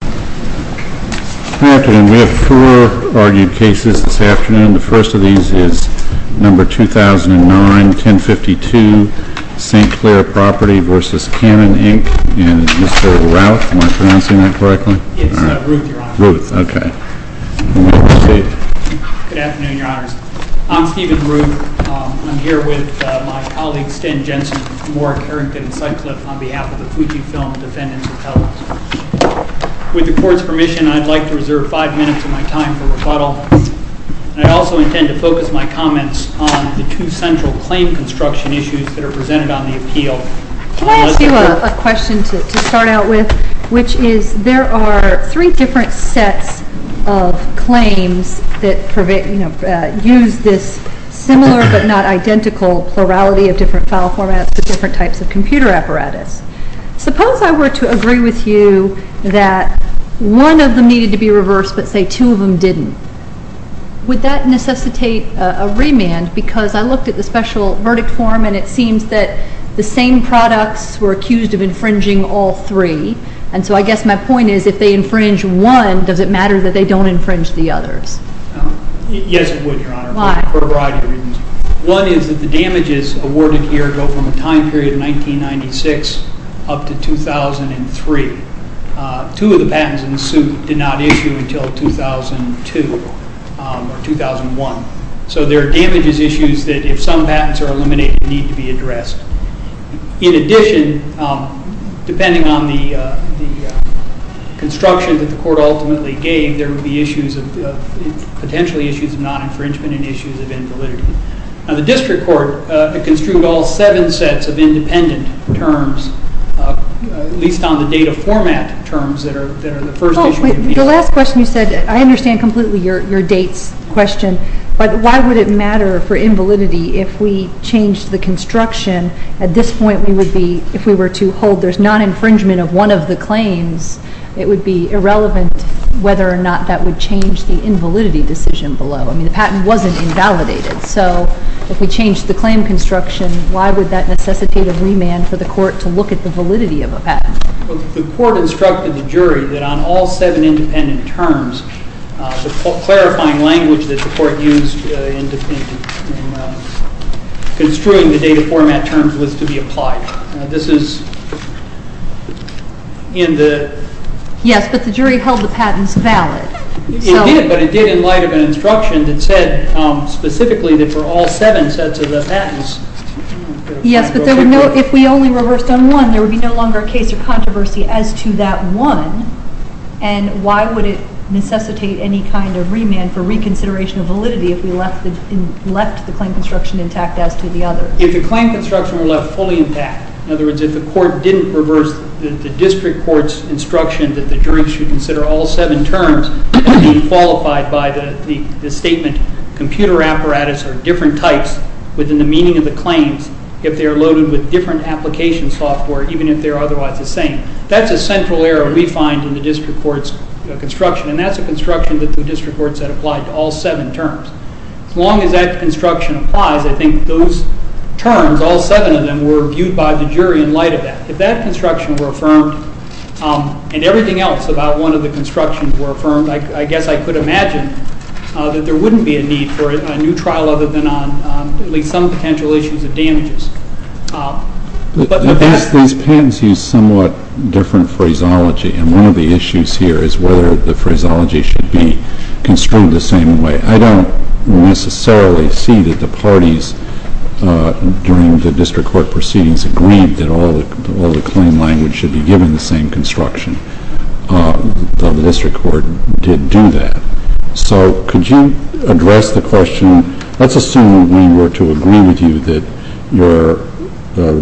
Good afternoon. We have four argued cases this afternoon. The first of these is No. 2009-1052, St. Clair Property v. Canon Inc., and it's Mr. Routh. Am I pronouncing that correctly? It's Routh, Your Honor. Routh, okay. Good afternoon, Your Honors. I'm Stephen Routh. I'm here with my colleague, Stan Jensen, from Warwick, Arrington, and Sutcliffe, on behalf of the Fujifilm Defendants Repellers. With the Court's permission, I'd like to reserve five minutes of my time for rebuttal, and I also intend to focus my comments on the two central claim construction issues that are presented on the appeal. Can I ask you a question to start out with, which is there are three different sets of claims that use this similar but not identical plurality of different file formats for different types of computer apparatus. Suppose I were to agree with you that one of them needed to be reversed but, say, two of them didn't. Would that necessitate a remand because I looked at the special verdict form, and it seems that the same products were accused of infringing all three, and so I guess my point is if they infringe one, does it matter that they don't infringe the others? Yes, it would, Your Honor. Why? For a variety of reasons. One is that the damages awarded here go from a time period of 1996 up to 2003. Two of the patents in the suit did not issue until 2002 or 2001, so there are damages issues that, if some patents are eliminated, need to be addressed. In addition, depending on the construction that the court ultimately gave, there would be potentially issues of non-infringement and issues of invalidity. Now, the district court construed all seven sets of independent terms, at least on the data format terms that are the first issue. The last question you said, I understand completely your dates question, but why would it matter for invalidity if we changed the construction? At this point, if we were to hold there's non-infringement of one of the claims, it would be irrelevant whether or not that would change the invalidity decision below. I mean, the patent wasn't invalidated, so if we changed the claim construction, why would that necessitate a remand for the court to look at the validity of a patent? The court instructed the jury that on all seven independent terms, the clarifying language that the court used in construing the data format terms was to be applied. This is in the... Yes, but the jury held the patents valid. It did, but it did in light of an instruction that said specifically that for all seven sets of the patents... Yes, but if we only reversed on one, there would be no longer a case or controversy as to that one, and why would it necessitate any kind of remand for reconsideration of validity if we left the claim construction intact as to the others? If the claim construction were left fully intact, in other words, if the court didn't reverse the district court's instruction that the jury should consider all seven terms as being qualified by the statement, computer apparatus are different types within the meaning of the claims if they are loaded with different application software, even if they are otherwise the same. That's a central error we find in the district court's construction, and that's a construction that the district courts had applied to all seven terms. As long as that construction applies, I think those terms, all seven of them, were viewed by the jury in light of that. If that construction were affirmed and everything else about one of the constructions were affirmed, I guess I could imagine that there wouldn't be a need for a new trial other than on at least some potential issues of damages. These patents use somewhat different phraseology, and one of the issues here is whether the phraseology should be construed the same way. I don't necessarily see that the parties during the district court proceedings agreed that all the claim language should be given the same construction, though the district court did do that. So could you address the question, let's assume we were to agree with you that your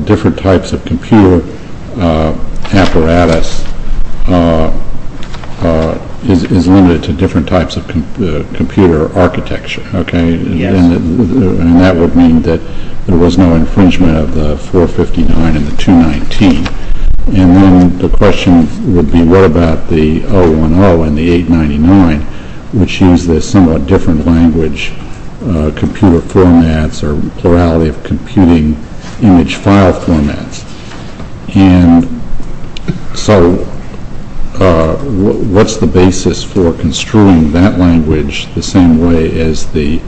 different types of computer apparatus is limited to different types of computer architecture, and that would mean that there was no infringement of the 459 and the 219, and then the question would be what about the 010 and the 899, which use the somewhat different language, computer formats or plurality of computing image file formats. So what's the basis for construing that language the same way as the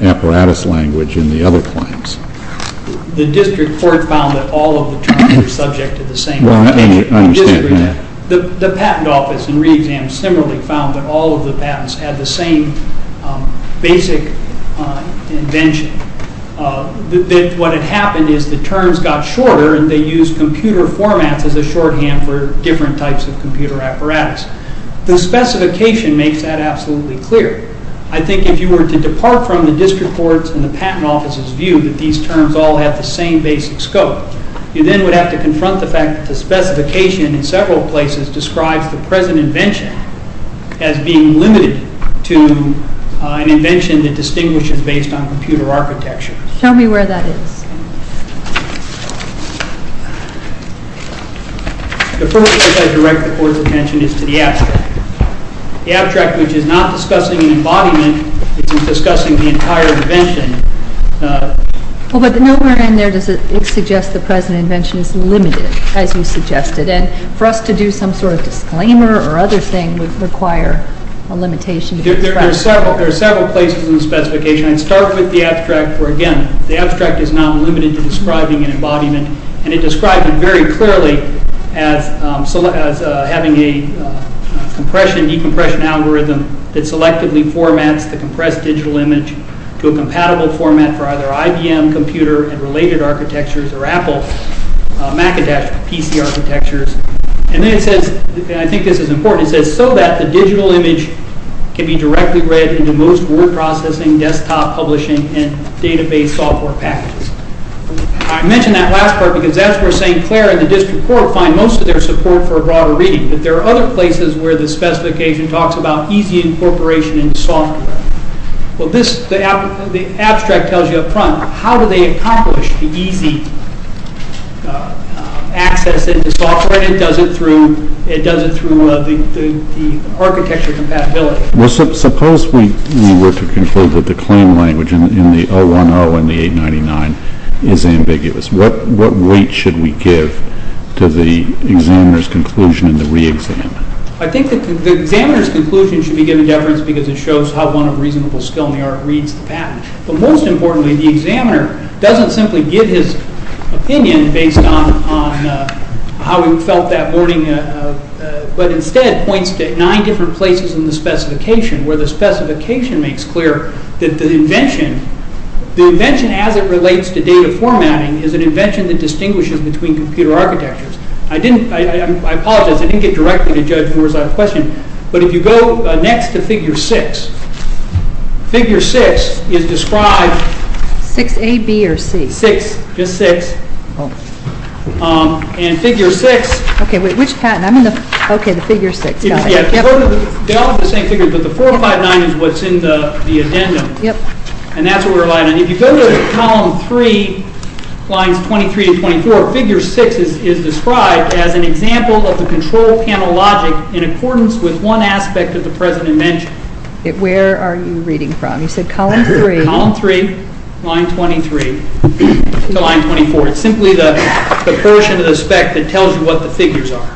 apparatus language in the other claims? The district court found that all of the terms were subject to the same invention. Well, I understand that. The patent office and re-exam similarly found that all of the patents had the same basic invention. What had happened is the terms got shorter and they used computer formats as a shorthand for different types of computer apparatus. The specification makes that absolutely clear. I think if you were to depart from the district court's and the patent office's view that these terms all have the same basic scope, you then would have to confront the fact that the specification in several places describes the present invention as being limited to an invention that distinguishes based on computer architecture. Show me where that is. The first place I direct the court's attention is to the abstract. The abstract, which is not discussing an embodiment. It's discussing the entire invention. Well, but nowhere in there does it suggest the present invention is limited, as you suggested. And for us to do some sort of disclaimer or other thing would require a limitation. There are several places in the specification. I'd start with the abstract where, again, the abstract is not limited to describing an embodiment. And it describes it very clearly as having a compression-decompression algorithm that selectively formats the compressed digital image to a compatible format for either IBM computer and related architectures or Apple Macintosh PC architectures. And then it says, and I think this is important, it says, so that the digital image can be directly read into most word processing, desktop publishing, and database software packages. I mention that last part because that's where St. Clair and the district court find most of their support for broader reading. But there are other places where the specification talks about easy incorporation into software. Well, this, the abstract tells you up front, how do they accomplish the easy access into software? And it does it through, it does it through the architecture compatibility. Well, suppose we were to conclude that the claim language in the 010 and the 899 is ambiguous. What weight should we give to the examiner's conclusion in the re-exam? I think the examiner's conclusion should be given deference because it shows how one of reasonable skill in the art reads the patent. But most importantly, the examiner doesn't simply give his opinion based on how he felt that morning, but instead points to nine different places in the specification where the specification makes clear that the invention, the invention as it relates to data formatting is an invention that distinguishes between computer architectures. I didn't, I apologize, I didn't get directly to Judge Moore's question, but if you go next to figure six, figure six is described. Six A, B, or C? Six, just six. And figure six. Okay, wait, which patent? I'm in the, okay, the figure six. Yeah, they all have the same figures, but the 459 is what's in the addendum. Yep. And that's what we're relying on. If you go to column three, lines 23 to 24, figure six is described as an example of the control panel logic in accordance with one aspect of the present invention. Where are you reading from? You said column three. Column three, line 23 to line 24. It's simply the portion of the spec that tells you what the figures are.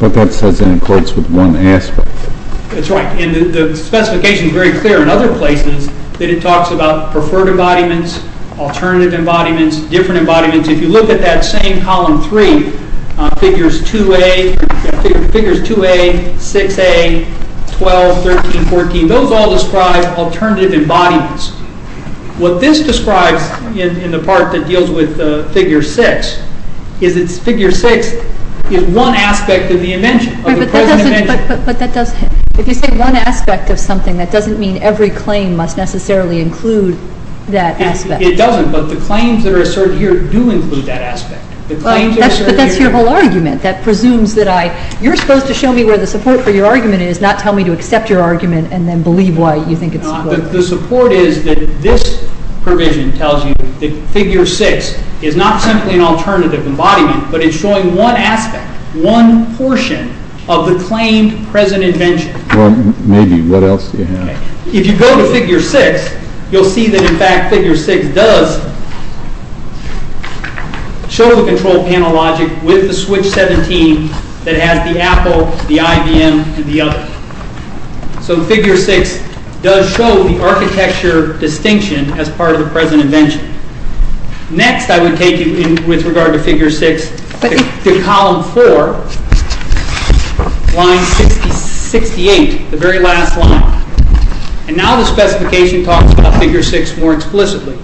But that says in accordance with one aspect. That's right, and the specification is very clear in other places that it talks about preferred embodiments, alternative embodiments, different embodiments. If you look at that same column three, figures 2A, 6A, 12, 13, 14, those all describe alternative embodiments. What this describes in the part that deals with figure six is it's figure six is one aspect of the invention, of the present invention. But that doesn't, if you say one aspect of something, that doesn't mean every claim must necessarily include that aspect. It doesn't, but the claims that are asserted here do include that aspect. But that's your whole argument. That presumes that I, you're supposed to show me where the support for your argument is, not tell me to accept your argument and then believe why you think it's support. The support is that this provision tells you that figure six is not simply an alternative embodiment, but it's showing one aspect, one portion of the claimed present invention. Well, maybe, what else do you have? If you go to figure six, you'll see that in fact figure six does show the control panel logic with the switch 17 that has the Apple, the IBM, and the other. So figure six does show the architecture distinction as part of the present invention. Next I would take you, with regard to figure six, to column four, line 68, the very last line. And now the specification talks about figure six more explicitly.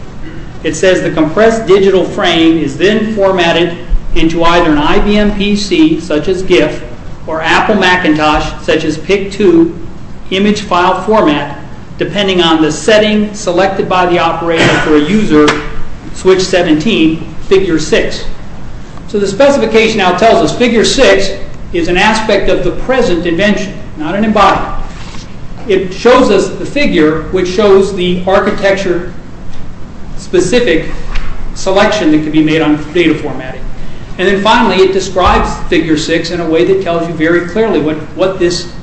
It says the compressed digital frame is then formatted into either an IBM PC, such as GIF, or Apple Macintosh, such as PIC2, image file format, depending on the setting selected by the operator for a user, switch 17, figure six. So the specification now tells us figure six is an aspect of the present invention, not an embodiment. It shows us the figure, which shows the architecture-specific selection that can be made on data formatting. And then finally, it describes figure six in a way that tells you very clearly what this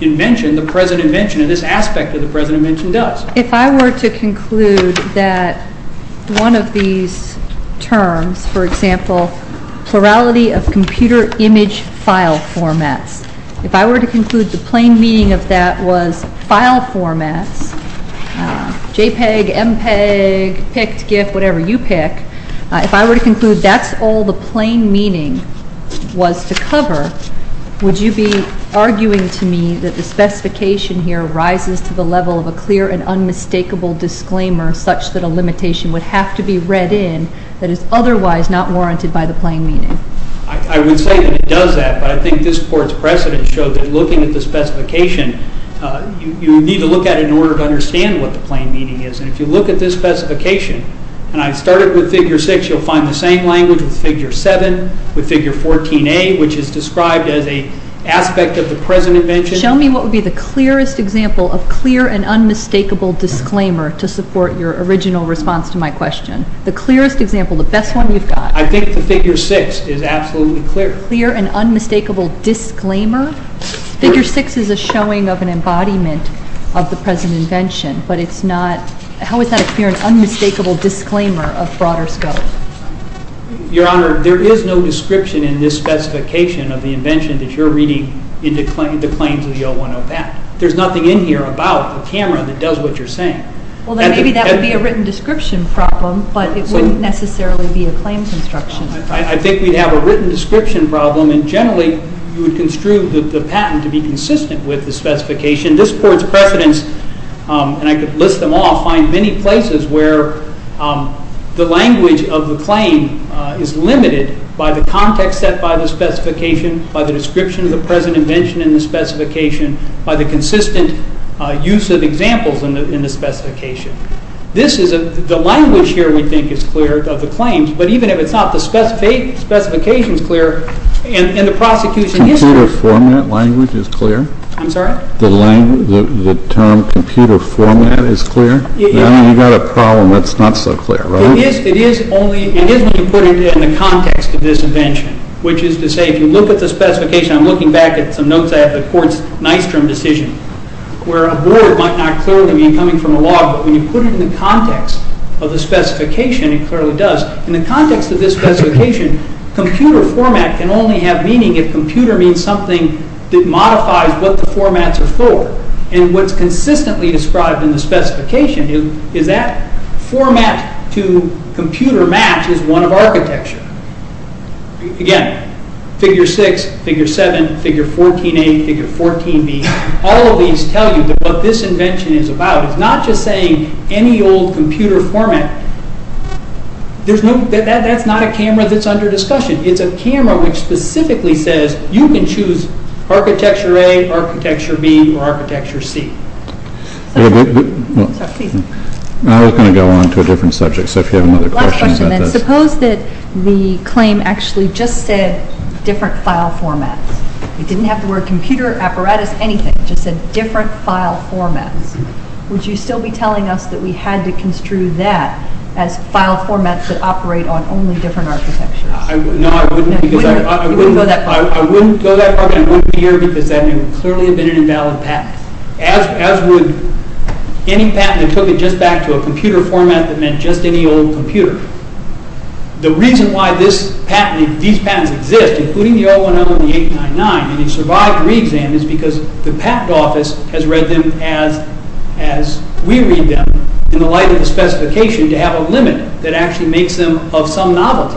invention, the present invention, this aspect of the present invention does. If I were to conclude that one of these terms, for example, plurality of computer image file formats, if I were to conclude the plain meaning of that was file formats, JPEG, MPEG, PIC2, GIF, whatever you pick, if I were to conclude that's all the plain meaning was to cover, would you be arguing to me that the specification here rises to the level of a clear and unmistakable disclaimer such that a limitation would have to be read in that is otherwise not warranted by the plain meaning? I would say that it does that, but I think this Court's precedent showed that looking at the specification, you need to look at it in order to understand what the plain meaning is. And if you look at this specification, and I started with figure six, you'll find the same language with figure seven, with figure 14A, which is described as an aspect of the present invention. Show me what would be the clearest example of clear and unmistakable disclaimer to support your original response to my question. The clearest example, the best one you've got. I think the figure six is absolutely clear. A clear and unmistakable disclaimer? Figure six is a showing of an embodiment of the present invention, but it's not, how is that a clear and unmistakable disclaimer of broader scope? Your Honor, there is no description in this specification of the invention that you're reading in the claims of the 01-08. There's nothing in here about the camera that does what you're saying. Well, then maybe that would be a written description problem, but it wouldn't necessarily be a claims instruction. I think we'd have a written description problem, and generally you would construe the patent to be consistent with the specification. This court's precedents, and I could list them all, find many places where the language of the claim is limited by the context set by the specification, by the description of the present invention in the specification, by the consistent use of examples in the specification. The language here we think is clear of the claims, but even if it's not, the specification is clear, and the prosecution is clear. Computer format language is clear? I'm sorry? The term computer format is clear? You've got a problem that's not so clear, right? It is when you put it in the context of this invention, which is to say if you look at the specification, I'm looking back at some notes I have of the court's Nystrom decision, where a word might not clearly mean coming from a log, but when you put it in the context of the specification, it clearly does. In the context of this specification, computer format can only have meaning if computer means something that modifies what the formats are for, and what's consistently described in the specification is that format to computer match is one of architecture. Again, figure 6, figure 7, figure 14A, figure 14B, all of these tell you what this invention is about. It's not just saying any old computer format. That's not a camera that's under discussion. It's a camera which specifically says you can choose architecture A, architecture B, or architecture C. I was going to go on to a different subject, so if you have other questions. Suppose that the claim actually just said different file formats. It didn't have the word computer, apparatus, anything. It just said different file formats. Would you still be telling us that we had to construe that as file formats that operate on only different architectures? No, I wouldn't. You wouldn't go that far? I wouldn't go that far, and I wouldn't be here because that would clearly have been an invalid patent, as would any patent that took it just back to a computer format that meant just any old computer. The reason why these patents exist, including the 010 and the 899, and have survived re-exam is because the patent office has read them as we read them, in the light of the specification, to have a limit that actually makes them of some novelty.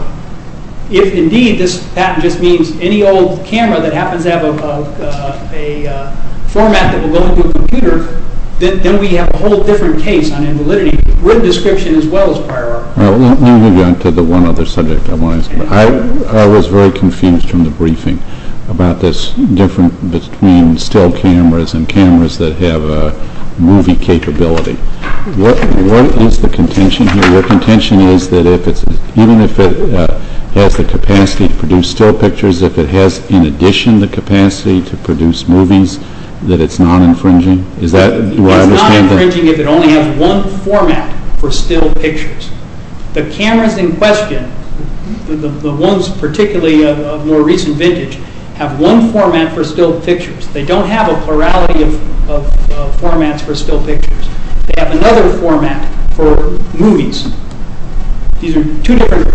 If, indeed, this patent just means any old camera that happens to have a format that will go into a computer, then we have a whole different case on invalidity with description as well as prior art. Let me move you on to the one other subject I want to ask you about. I was very confused from the briefing about this difference between still cameras and cameras that have a movie capability. What is the contention here? Your contention is that even if it has the capacity to produce still pictures, if it has, in addition, the capacity to produce movies, that it's not infringing? It's not infringing if it only has one format for still pictures. The cameras in question, the ones particularly of more recent vintage, have one format for still pictures. They don't have a plurality of formats for still pictures. They have another format for movies. These are two different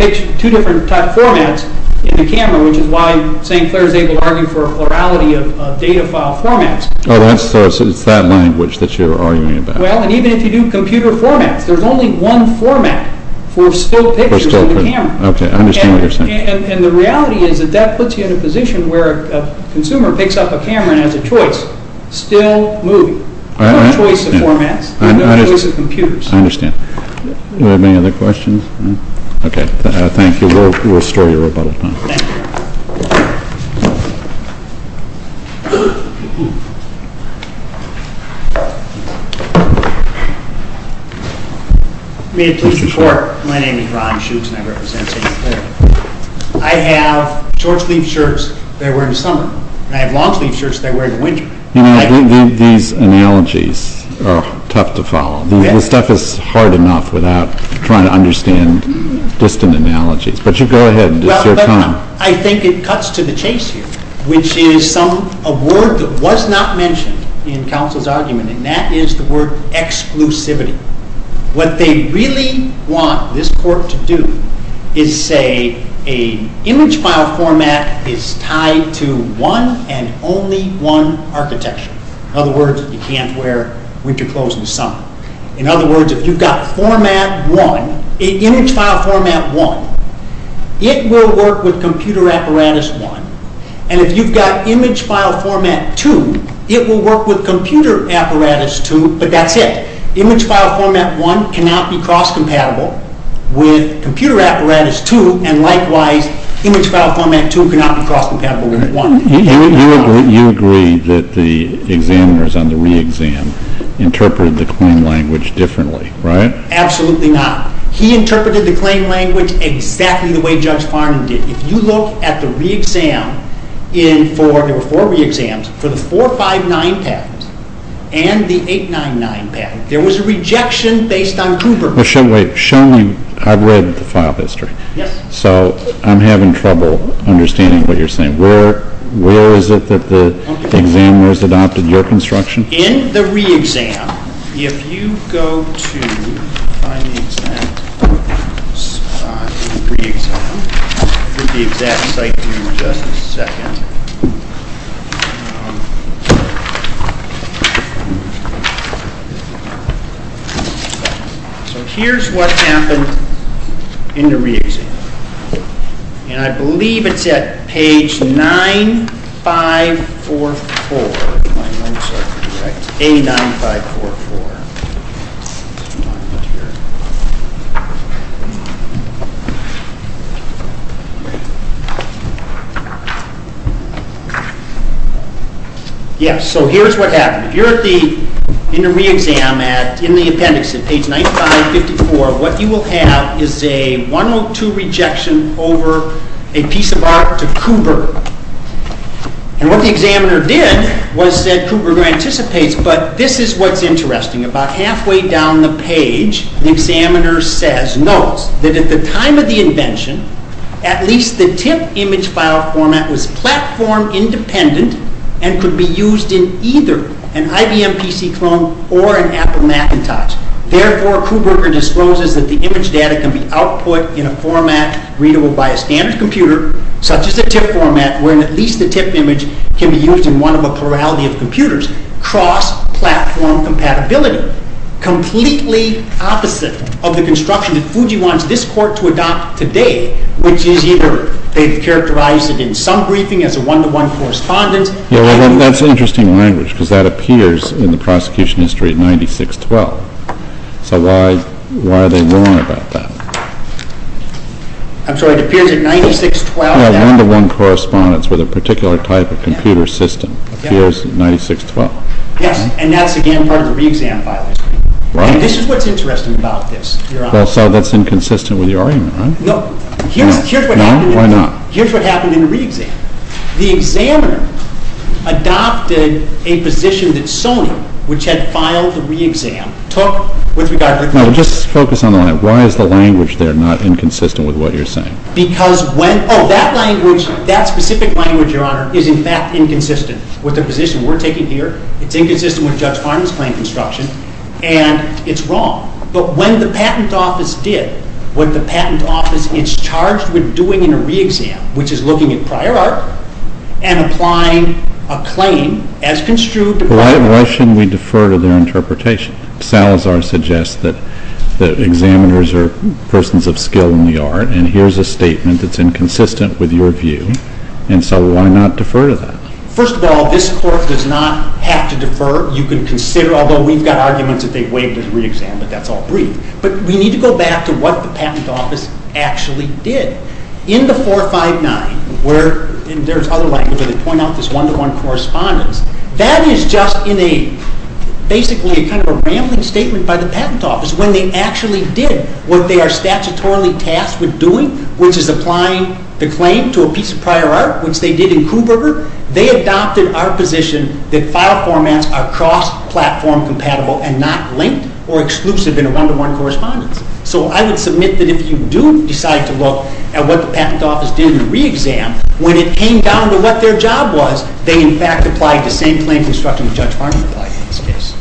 formats in the camera, which is why St. Clair is able to argue for a plurality of data file formats. Oh, so it's that language that you're arguing about. Well, and even if you do computer formats, there's only one format for still pictures in the camera. Okay, I understand what you're saying. And the reality is that that puts you in a position where a consumer picks up a camera and has a choice, still movie. No choice of formats. No choice of computers. I understand. Are there any other questions? Okay, thank you. We'll restore your rebuttal time. Thank you. May it please the Court, my name is Ron Schutz and I represent St. Clair. I have short-sleeved shirts that I wear in the summer, and I have long-sleeved shirts that I wear in the winter. These analogies are tough to follow. This stuff is hard enough without trying to understand distant analogies. But you go ahead. It's your turn. I think it cuts to the chase here, which is a word that was not mentioned in counsel's argument, and that is the word exclusivity. What they really want this Court to do is say an image file format is tied to one and only one architecture. In other words, you can't wear winter clothes in the summer. In other words, if you've got image file format 1, it will work with computer apparatus 1. And if you've got image file format 2, it will work with computer apparatus 2, but that's it. Image file format 1 cannot be cross-compatible with computer apparatus 2. And likewise, image file format 2 cannot be cross-compatible with 1. You agree that the examiners on the re-exam interpreted the claim language differently, right? Absolutely not. He interpreted the claim language exactly the way Judge Farnan did. If you look at the re-exam, there were four re-exams, for the 459 patent and the 899 patent, there was a rejection based on Hoover. Wait, show me. I've read the file history. Yes. So I'm having trouble understanding what you're saying. Where is it that the examiners adopted your construction? In the re-exam, if you go to the exact site in just a second. So here's what happened in the re-exam. And I believe it's at page 9544. Yes, so here's what happened. If you're in the re-exam in the appendix at page 9544, what you will have is a 102 rejection over a piece of art to Hoover. And what the examiner did was said Hoover anticipates, but this is what's interesting. About halfway down the page, the examiner says, notes that at the time of the invention, at least the tip image file format was platform independent and could be used in either an IBM PC clone or an Apple Macintosh. Therefore, Krueger discloses that the image data can be output in a format readable by a standard computer, such as a tip format, where at least the tip image can be used in one of a plurality of computers. Cross-platform compatibility. Completely opposite of the construction that Fuji wants this court to adopt today, which is either they've characterized it in some briefing as a one-to-one correspondence. Yeah, well, that's interesting language, because that appears in the prosecution history at 9612. So why are they wrong about that? I'm sorry, it appears at 9612. Yeah, one-to-one correspondence with a particular type of computer system appears at 9612. Yes, and that's, again, part of the re-exam file history. Right. And this is what's interesting about this, Your Honor. Well, so that's inconsistent with your argument, right? No, here's what happened in the re-exam. The examiner adopted a position that Sony, which had filed the re-exam, took with regard to the claim. No, just focus on the line. Why is the language there not inconsistent with what you're saying? Because when – oh, that language, that specific language, Your Honor, is in fact inconsistent with the position we're taking here. It's inconsistent with Judge Farman's claim construction, and it's wrong. But when the patent office did what the patent office is charged with doing in a re-exam, which is looking at prior art and applying a claim as construed – Well, why shouldn't we defer to their interpretation? Salazar suggests that examiners are persons of skill in the art, and here's a statement that's inconsistent with your view, and so why not defer to that? Although we've got arguments that they waived the re-exam, but that's all brief. But we need to go back to what the patent office actually did. In the 459, where – and there's other language where they point out this one-to-one correspondence – that is just basically a kind of a rambling statement by the patent office. When they actually did what they are statutorily tasked with doing, which is applying the claim to a piece of prior art, which they did in Kuberger, they adopted our position that file formats are cross-platform compatible and not linked or exclusive in a one-to-one correspondence. So I would submit that if you do decide to look at what the patent office did in the re-exam, when it came down to what their job was, they in fact applied the same claim construction that Judge Farmer applied in this case.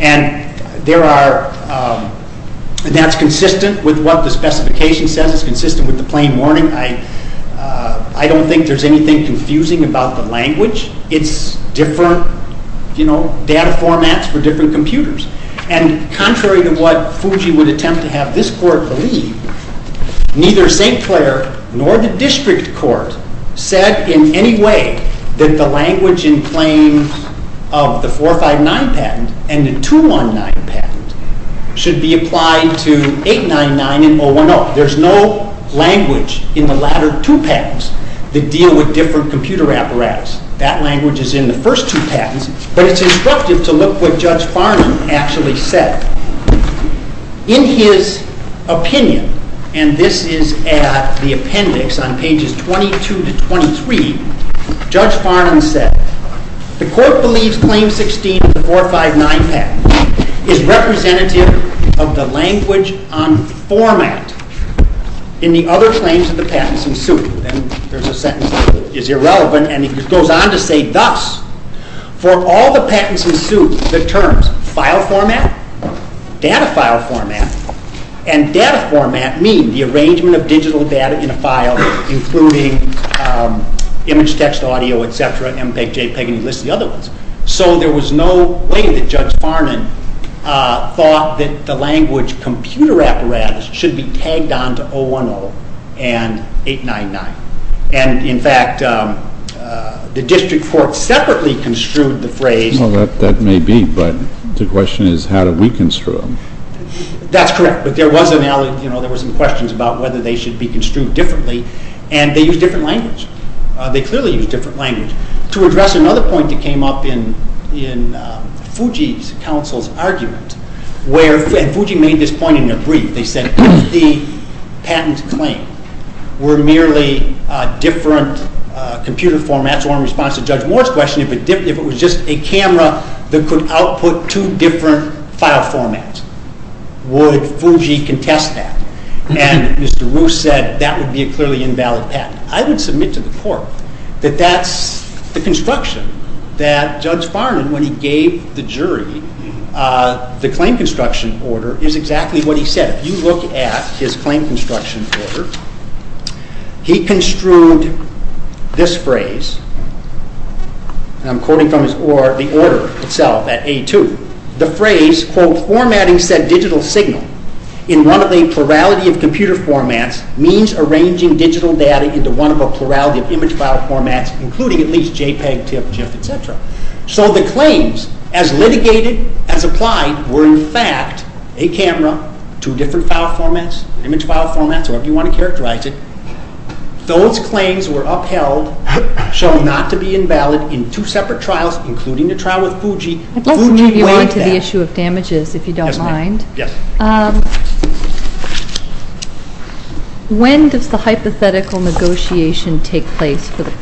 And there are – that's consistent with what the specification says. It's consistent with the plain warning. I don't think there's anything confusing about the language. It's different, you know, data formats for different computers. And contrary to what Fuji would attempt to have this court believe, neither St. Clair nor the district court said in any way that the language in claim of the 459 patent and the 219 patent should be applied to 899 and 010. Well, there's no language in the latter two patents that deal with different computer apparatus. That language is in the first two patents, but it's instructive to look what Judge Farman actually said. In his opinion, and this is at the appendix on pages 22 to 23, Judge Farman said, The court believes claim 16 of the 459 patent is representative of the language on format in the other claims of the patents in suit. And there's a sentence that is irrelevant, and it goes on to say thus, For all the patents in suit, the terms file format, data file format, and data format mean the arrangement of digital data in a file, including image, text, audio, et cetera, MPEG, JPEG, and you list the other ones. So there was no way that Judge Farman thought that the language computer apparatus should be tagged on to 010 and 899. And in fact, the district court separately construed the phrase. Well, that may be, but the question is how do we construe them? That's correct, but there was some questions about whether they should be construed differently, and they use different language. They clearly use different language. To address another point that came up in Fuji's counsel's argument, and Fuji made this point in their brief, they said if the patent claim were merely different computer formats, or in response to Judge Moore's question, if it was just a camera that could output two different file formats, would Fuji contest that? And Mr. Roos said that would be a clearly invalid patent. I would submit to the court that that's the construction that Judge Farman, when he gave the jury the claim construction order, is exactly what he said. If you look at his claim construction order, he construed this phrase, and I'm quoting from the order itself at A2. The phrase, quote, formatting said digital signal in one of the plurality of computer formats means arranging digital data into one of a plurality of image file formats, including at least JPEG, TIFF, GIF, etc. So the claims, as litigated, as applied, were in fact a camera, two different file formats, image file formats, however you want to characterize it. Those claims were upheld, show not to be invalid, in two separate trials, including the trial with Fuji. I'd like to move you on to the issue of damages, if you don't mind. Yes, ma'am. When does the hypothetical negotiation take place for the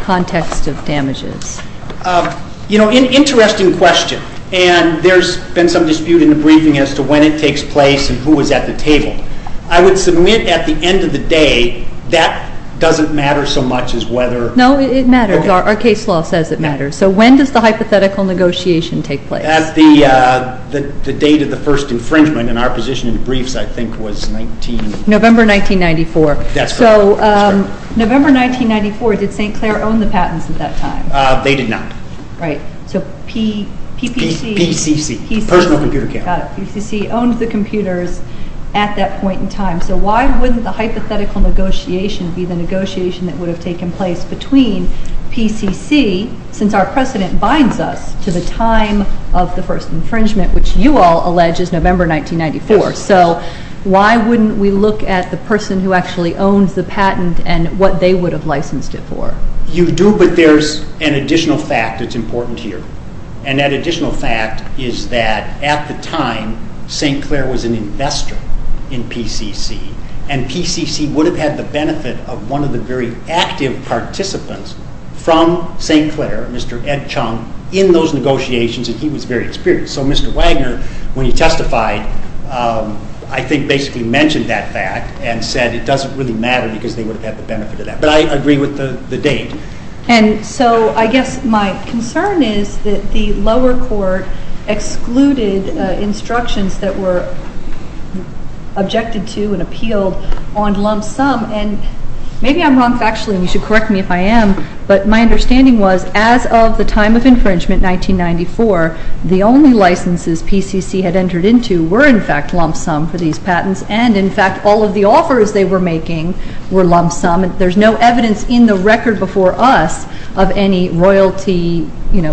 context of damages? You know, interesting question, and there's been some dispute in the briefing as to when it takes place and who is at the table. I would submit at the end of the day that doesn't matter so much as whether... No, it matters. Our case law says it matters. So when does the hypothetical negotiation take place? At the date of the first infringement, and our position in the briefs, I think, was 19... November 1994. That's correct. So November 1994, did St. Clair own the patents at that time? They did not. Right. So PPC... PCC, Personal Computer Camera. Got it. PCC owned the computers at that point in time. So why wouldn't the hypothetical negotiation be the negotiation that would have taken place between PCC, since our precedent binds us to the time of the first infringement, which you all allege is November 1994. So why wouldn't we look at the person who actually owns the patent and what they would have licensed it for? You do, but there's an additional fact that's important here. And that additional fact is that at the time, St. Clair was an investor in PCC, and PCC would have had the benefit of one of the very active participants from St. Clair, Mr. Ed Chung, in those negotiations, and he was very experienced. So Mr. Wagner, when he testified, I think basically mentioned that fact and said it doesn't really matter because they would have had the benefit of that. But I agree with the date. And so I guess my concern is that the lower court excluded instructions that were objected to and appealed on lump sum. And maybe I'm wrong factually, and you should correct me if I am, but my understanding was as of the time of infringement, 1994, the only licenses PCC had entered into were in fact lump sum for these patents, and in fact all of the offers they were making were lump sum. There's no evidence in the record before us of any royalty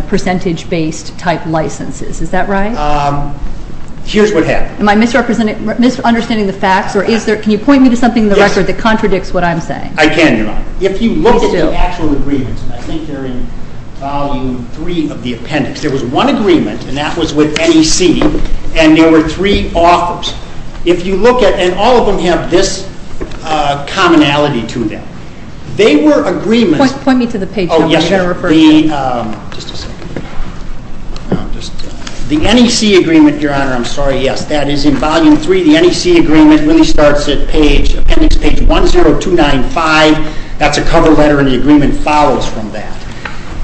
percentage-based type licenses. Is that right? Here's what happened. Am I misunderstanding the facts, or can you point me to something in the record that contradicts what I'm saying? I can, Your Honor. If you look at the actual agreements, and I think they're in volume three of the appendix, there was one agreement, and that was with NEC, and there were three offers. And all of them have this commonality to them. They were agreements. Point me to the page number you're going to refer to. Oh, yes. Just a second. The NEC agreement, Your Honor, I'm sorry, yes, that is in volume three. The NEC agreement really starts at appendix page 10295. That's a cover letter, and the agreement follows from that.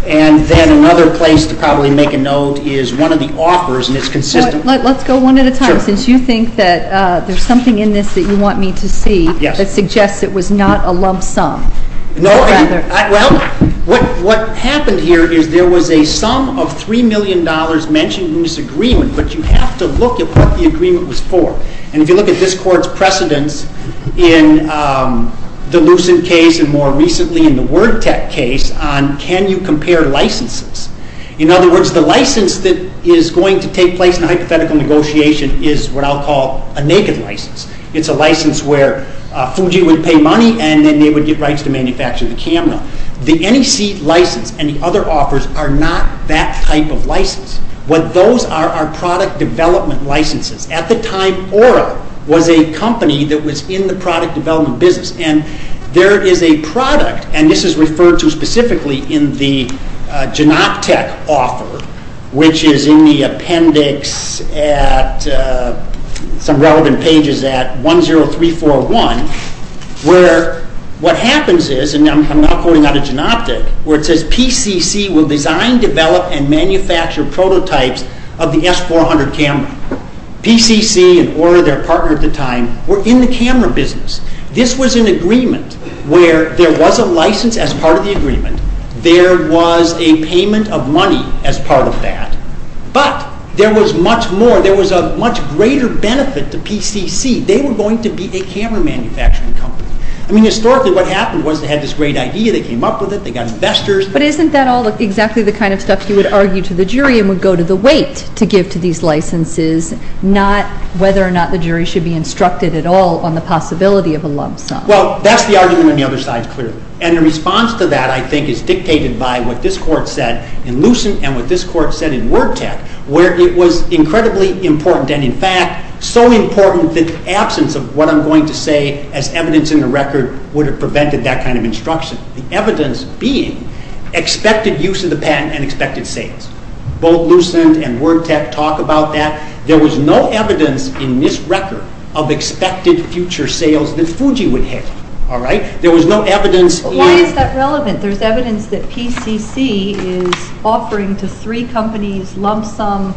And then another place to probably make a note is one of the offers, and it's consistent. Let's go one at a time. Sure. Since you think that there's something in this that you want me to see that suggests it was not a lump sum. No, well, what happened here is there was a sum of $3 million mentioned in this agreement, but you have to look at what the agreement was for. And if you look at this Court's precedence in the Lucent case and more recently in the WordTek case on can you compare licenses, in other words, the license that is going to take place in a hypothetical negotiation is what I'll call a naked license. It's a license where Fuji would pay money, and then they would get rights to manufacture the camera. The NEC license and the other offers are not that type of license. What those are are product development licenses. At the time, Oro was a company that was in the product development business, and there is a product, and this is referred to specifically in the Genoptic offer, which is in the appendix at some relevant pages at 10341, where what happens is, and I'm now quoting out of Genoptic, where it says PCC will design, develop, and manufacture prototypes of the S400 camera. PCC and Oro, their partner at the time, were in the camera business. This was an agreement where there was a license as part of the agreement. There was a payment of money as part of that, but there was much more. There was a much greater benefit to PCC. They were going to be a camera manufacturing company. I mean, historically what happened was they had this great idea. They came up with it. They got investors. But isn't that all exactly the kind of stuff you would argue to the jury and would go to the weight to give to these licenses, not whether or not the jury should be instructed at all on the possibility of a lump sum? Well, that's the argument on the other side, clearly. And the response to that, I think, is dictated by what this Court said in Lucent and what this Court said in WordTech, where it was incredibly important, and in fact so important that the absence of what I'm going to say as evidence in the record would have prevented that kind of instruction, the evidence being expected use of the patent and expected sales. Both Lucent and WordTech talk about that. There was no evidence in this record of expected future sales that Fuji would have. There was no evidence. Why is that relevant? There's evidence that PCC is offering to three companies lump sum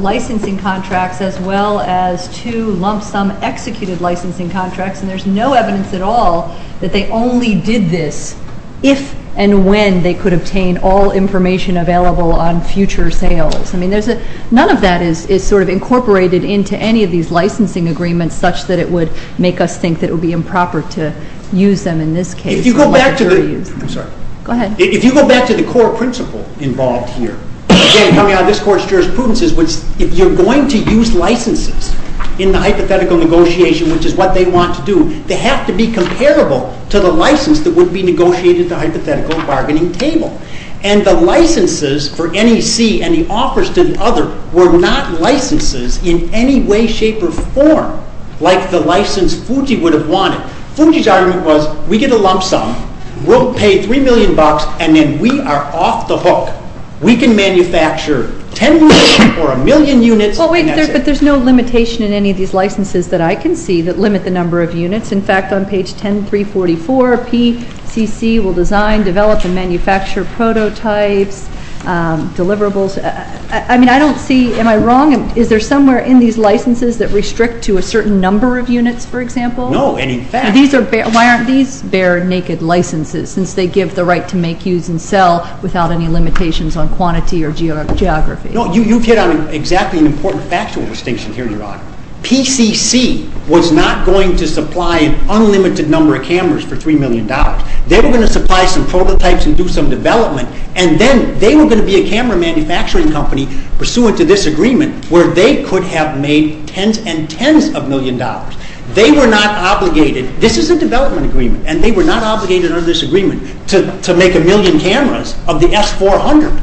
licensing contracts as well as two lump sum executed licensing contracts, and there's no evidence at all that they only did this if and when they could obtain all information available on future sales. I mean, none of that is sort of incorporated into any of these licensing agreements such that it would make us think that it would be improper to use them in this case. If you go back to the core principle involved here, again coming out of this Court's jurisprudence, is if you're going to use licenses in the hypothetical negotiation, which is what they want to do, they have to be comparable to the license that would be negotiated at the hypothetical bargaining table. And the licenses for NEC and the offers to the other were not licenses in any way, shape, or form like the license Fuji would have wanted. Fuji's argument was we get a lump sum, we'll pay $3 million, and then we are off the hook. We can manufacture 10 units or a million units. But there's no limitation in any of these licenses that I can see that limit the number of units. In fact, on page 10344, PCC will design, develop, and manufacture prototypes, deliverables. I mean, I don't see — am I wrong? Is there somewhere in these licenses that restrict to a certain number of units, for example? No, and in fact — Why aren't these bare, naked licenses, since they give the right to make, use, and sell without any limitations on quantity or geography? No, you've hit on exactly an important factual distinction here, Your Honor. PCC was not going to supply an unlimited number of cameras for $3 million. They were going to supply some prototypes and do some development, and then they were going to be a camera manufacturing company pursuant to this agreement where they could have made tens and tens of millions of dollars. They were not obligated — this is a development agreement, and they were not obligated under this agreement to make a million cameras of the S400.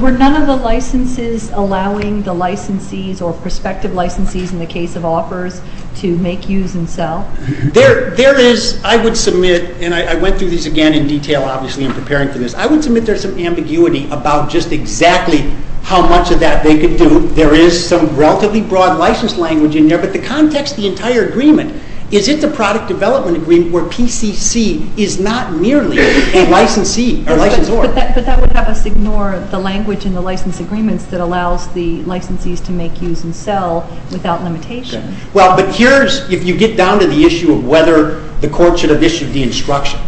Were none of the licenses allowing the licensees or prospective licensees, in the case of offers, to make, use, and sell? There is — I would submit, and I went through these again in detail, obviously, in preparing for this. I would submit there's some ambiguity about just exactly how much of that they could do. There is some relatively broad license language in there, but the context of the entire agreement is it's a product development agreement where PCC is not merely a licensee or licensor. But that would have us ignore the language in the license agreements that allows the licensees to make, use, and sell without limitation. Well, but here's — if you get down to the issue of whether the court should have issued the instruction,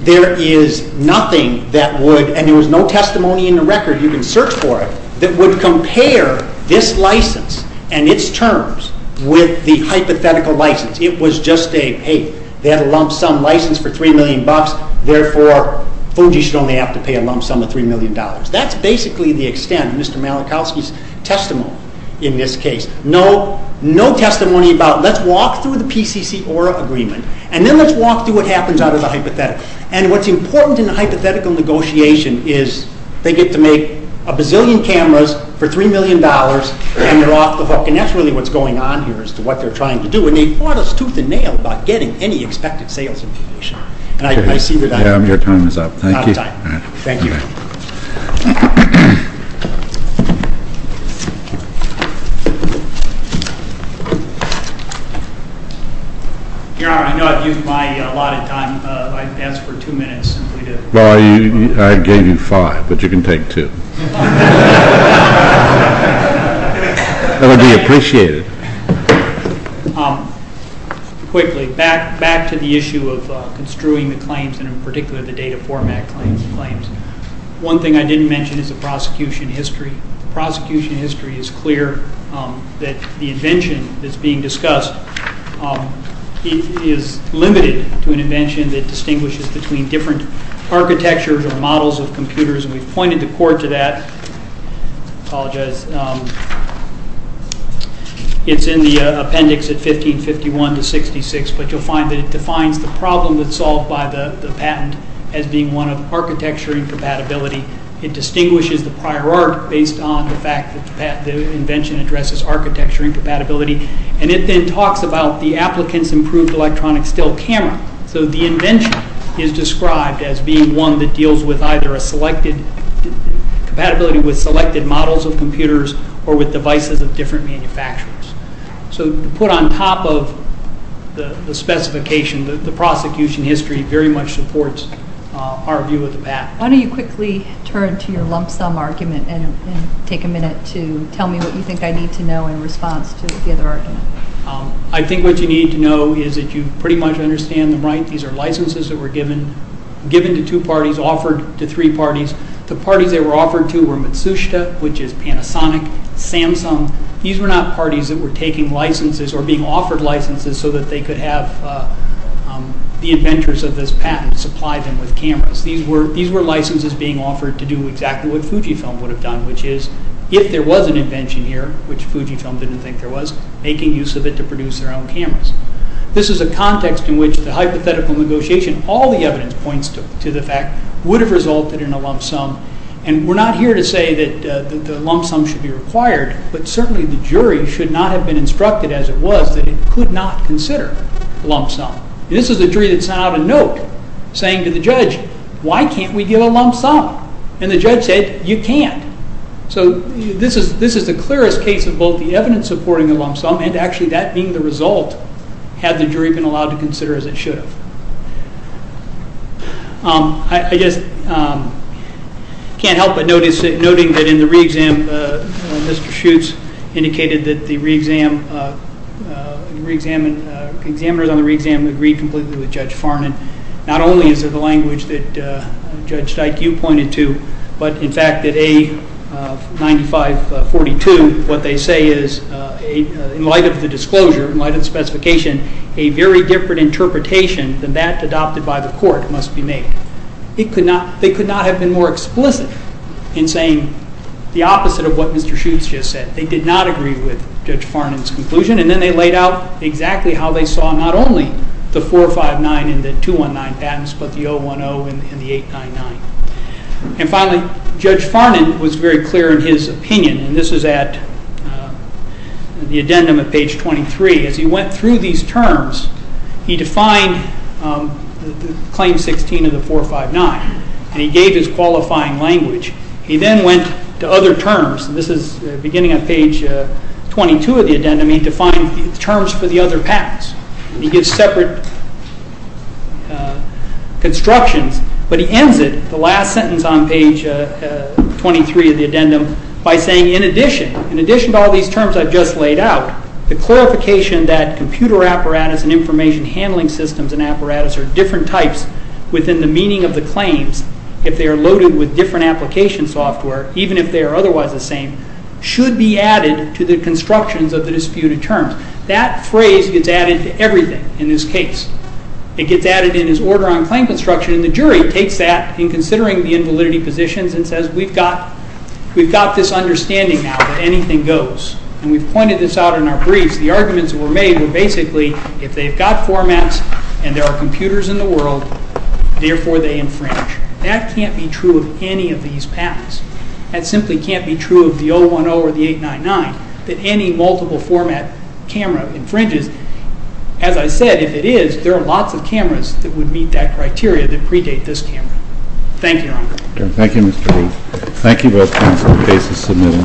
there is nothing that would — and there was no testimony in the record, you can search for it — that would compare this license and its terms with the hypothetical license. It was just a, hey, they had a lump sum license for $3 million, therefore Fuji should only have to pay a lump sum of $3 million. That's basically the extent of Mr. Malachowski's testimony in this case. No testimony about, let's walk through the PCC-ORA agreement, and then let's walk through what happens out of the hypothetical. And what's important in the hypothetical negotiation is they get to make a bazillion cameras for $3 million, and they're off the hook, and that's really what's going on here as to what they're trying to do. And they fought us tooth and nail about getting any expected sales information. And I see that I'm out of time. Your time is up. Thank you. Thank you. Your Honor, I know I've used my allotted time. I asked for two minutes. Well, I gave you five, but you can take two. That would be appreciated. Quickly, back to the issue of construing the claims, and in particular the data format claims. One thing I didn't mention is the prosecution history. The prosecution history is clear that the invention that's being discussed is limited to an invention that distinguishes between different architectures or models of computers, and we've pointed the court to that. I apologize. It's in the appendix at 1551-66, but you'll find that it defines the problem that's solved by the patent as being one of architecture incompatibility. It distinguishes the prior art based on the fact that the invention addresses architecture incompatibility, and it then talks about the applicant's improved electronic still camera. So the invention is described as being one that deals with either compatibility with selected models of computers or with devices of different manufacturers. So to put on top of the specification, the prosecution history very much supports our view of the patent. Why don't you quickly turn to your lump sum argument and take a minute to tell me what you think I need to know in response to the other argument. I think what you need to know is that you pretty much understand them right. These are licenses that were given to two parties, offered to three parties. The parties they were offered to were Matsushita, which is Panasonic, Samsung. These were not parties that were taking licenses or being offered licenses so that they could have the inventors of this patent supply them with cameras. These were licenses being offered to do exactly what Fujifilm would have done, which is, if there was an invention here, which Fujifilm didn't think there was, making use of it to produce their own cameras. This is a context in which the hypothetical negotiation, all the evidence points to the fact, would have resulted in a lump sum, and we're not here to say that the lump sum should be required, but certainly the jury should not have been instructed as it was that it could not consider a lump sum. This is a jury that sent out a note saying to the judge, why can't we give a lump sum? And the judge said, you can't. So this is the clearest case of both the evidence supporting a lump sum and actually that being the result had the jury been allowed to consider as it should have. I just can't help but notice, noting that in the re-exam, Mr. Schutz indicated that the examiners on the re-exam agreed completely with Judge Farnon. Not only is it the language that Judge Dyke, you pointed to, but in fact that A9542, what they say is, in light of the disclosure, in light of the specification, a very different interpretation than that adopted by the court must be made. They could not have been more explicit in saying the opposite of what Mr. Schutz just said. They did not agree with Judge Farnon's conclusion, and then they laid out exactly how they saw not only the 459 and the 219 patents, but the 010 and the 899. And finally, Judge Farnon was very clear in his opinion, and this is at the addendum at page 23. As he went through these terms, he defined claim 16 of the 459, and he gave his qualifying language. He then went to other terms, and this is beginning on page 22 of the addendum. He defined terms for the other patents, and he gives separate constructions, but he ends it, the last sentence on page 23 of the addendum, by saying, in addition to all these terms I've just laid out, the clarification that computer apparatus and information handling systems and apparatus are different types within the meaning of the claims if they are loaded with different application software, even if they are otherwise the same, should be added to the constructions of the disputed terms. That phrase gets added to everything in this case. It gets added in his order on claim construction, and the jury takes that in considering the invalidity positions and says, we've got this understanding now that anything goes. And we've pointed this out in our briefs. The arguments that were made were basically, if they've got formats and there are computers in the world, therefore they infringe. That can't be true of any of these patents. That simply can't be true of the 010 or the 899, that any multiple format camera infringes. As I said, if it is, there are lots of cameras that would meet that criteria that predate this camera. Thank you, Your Honor. Thank you, Mr. Lee. Thank you both, counsel, for the basis submitted.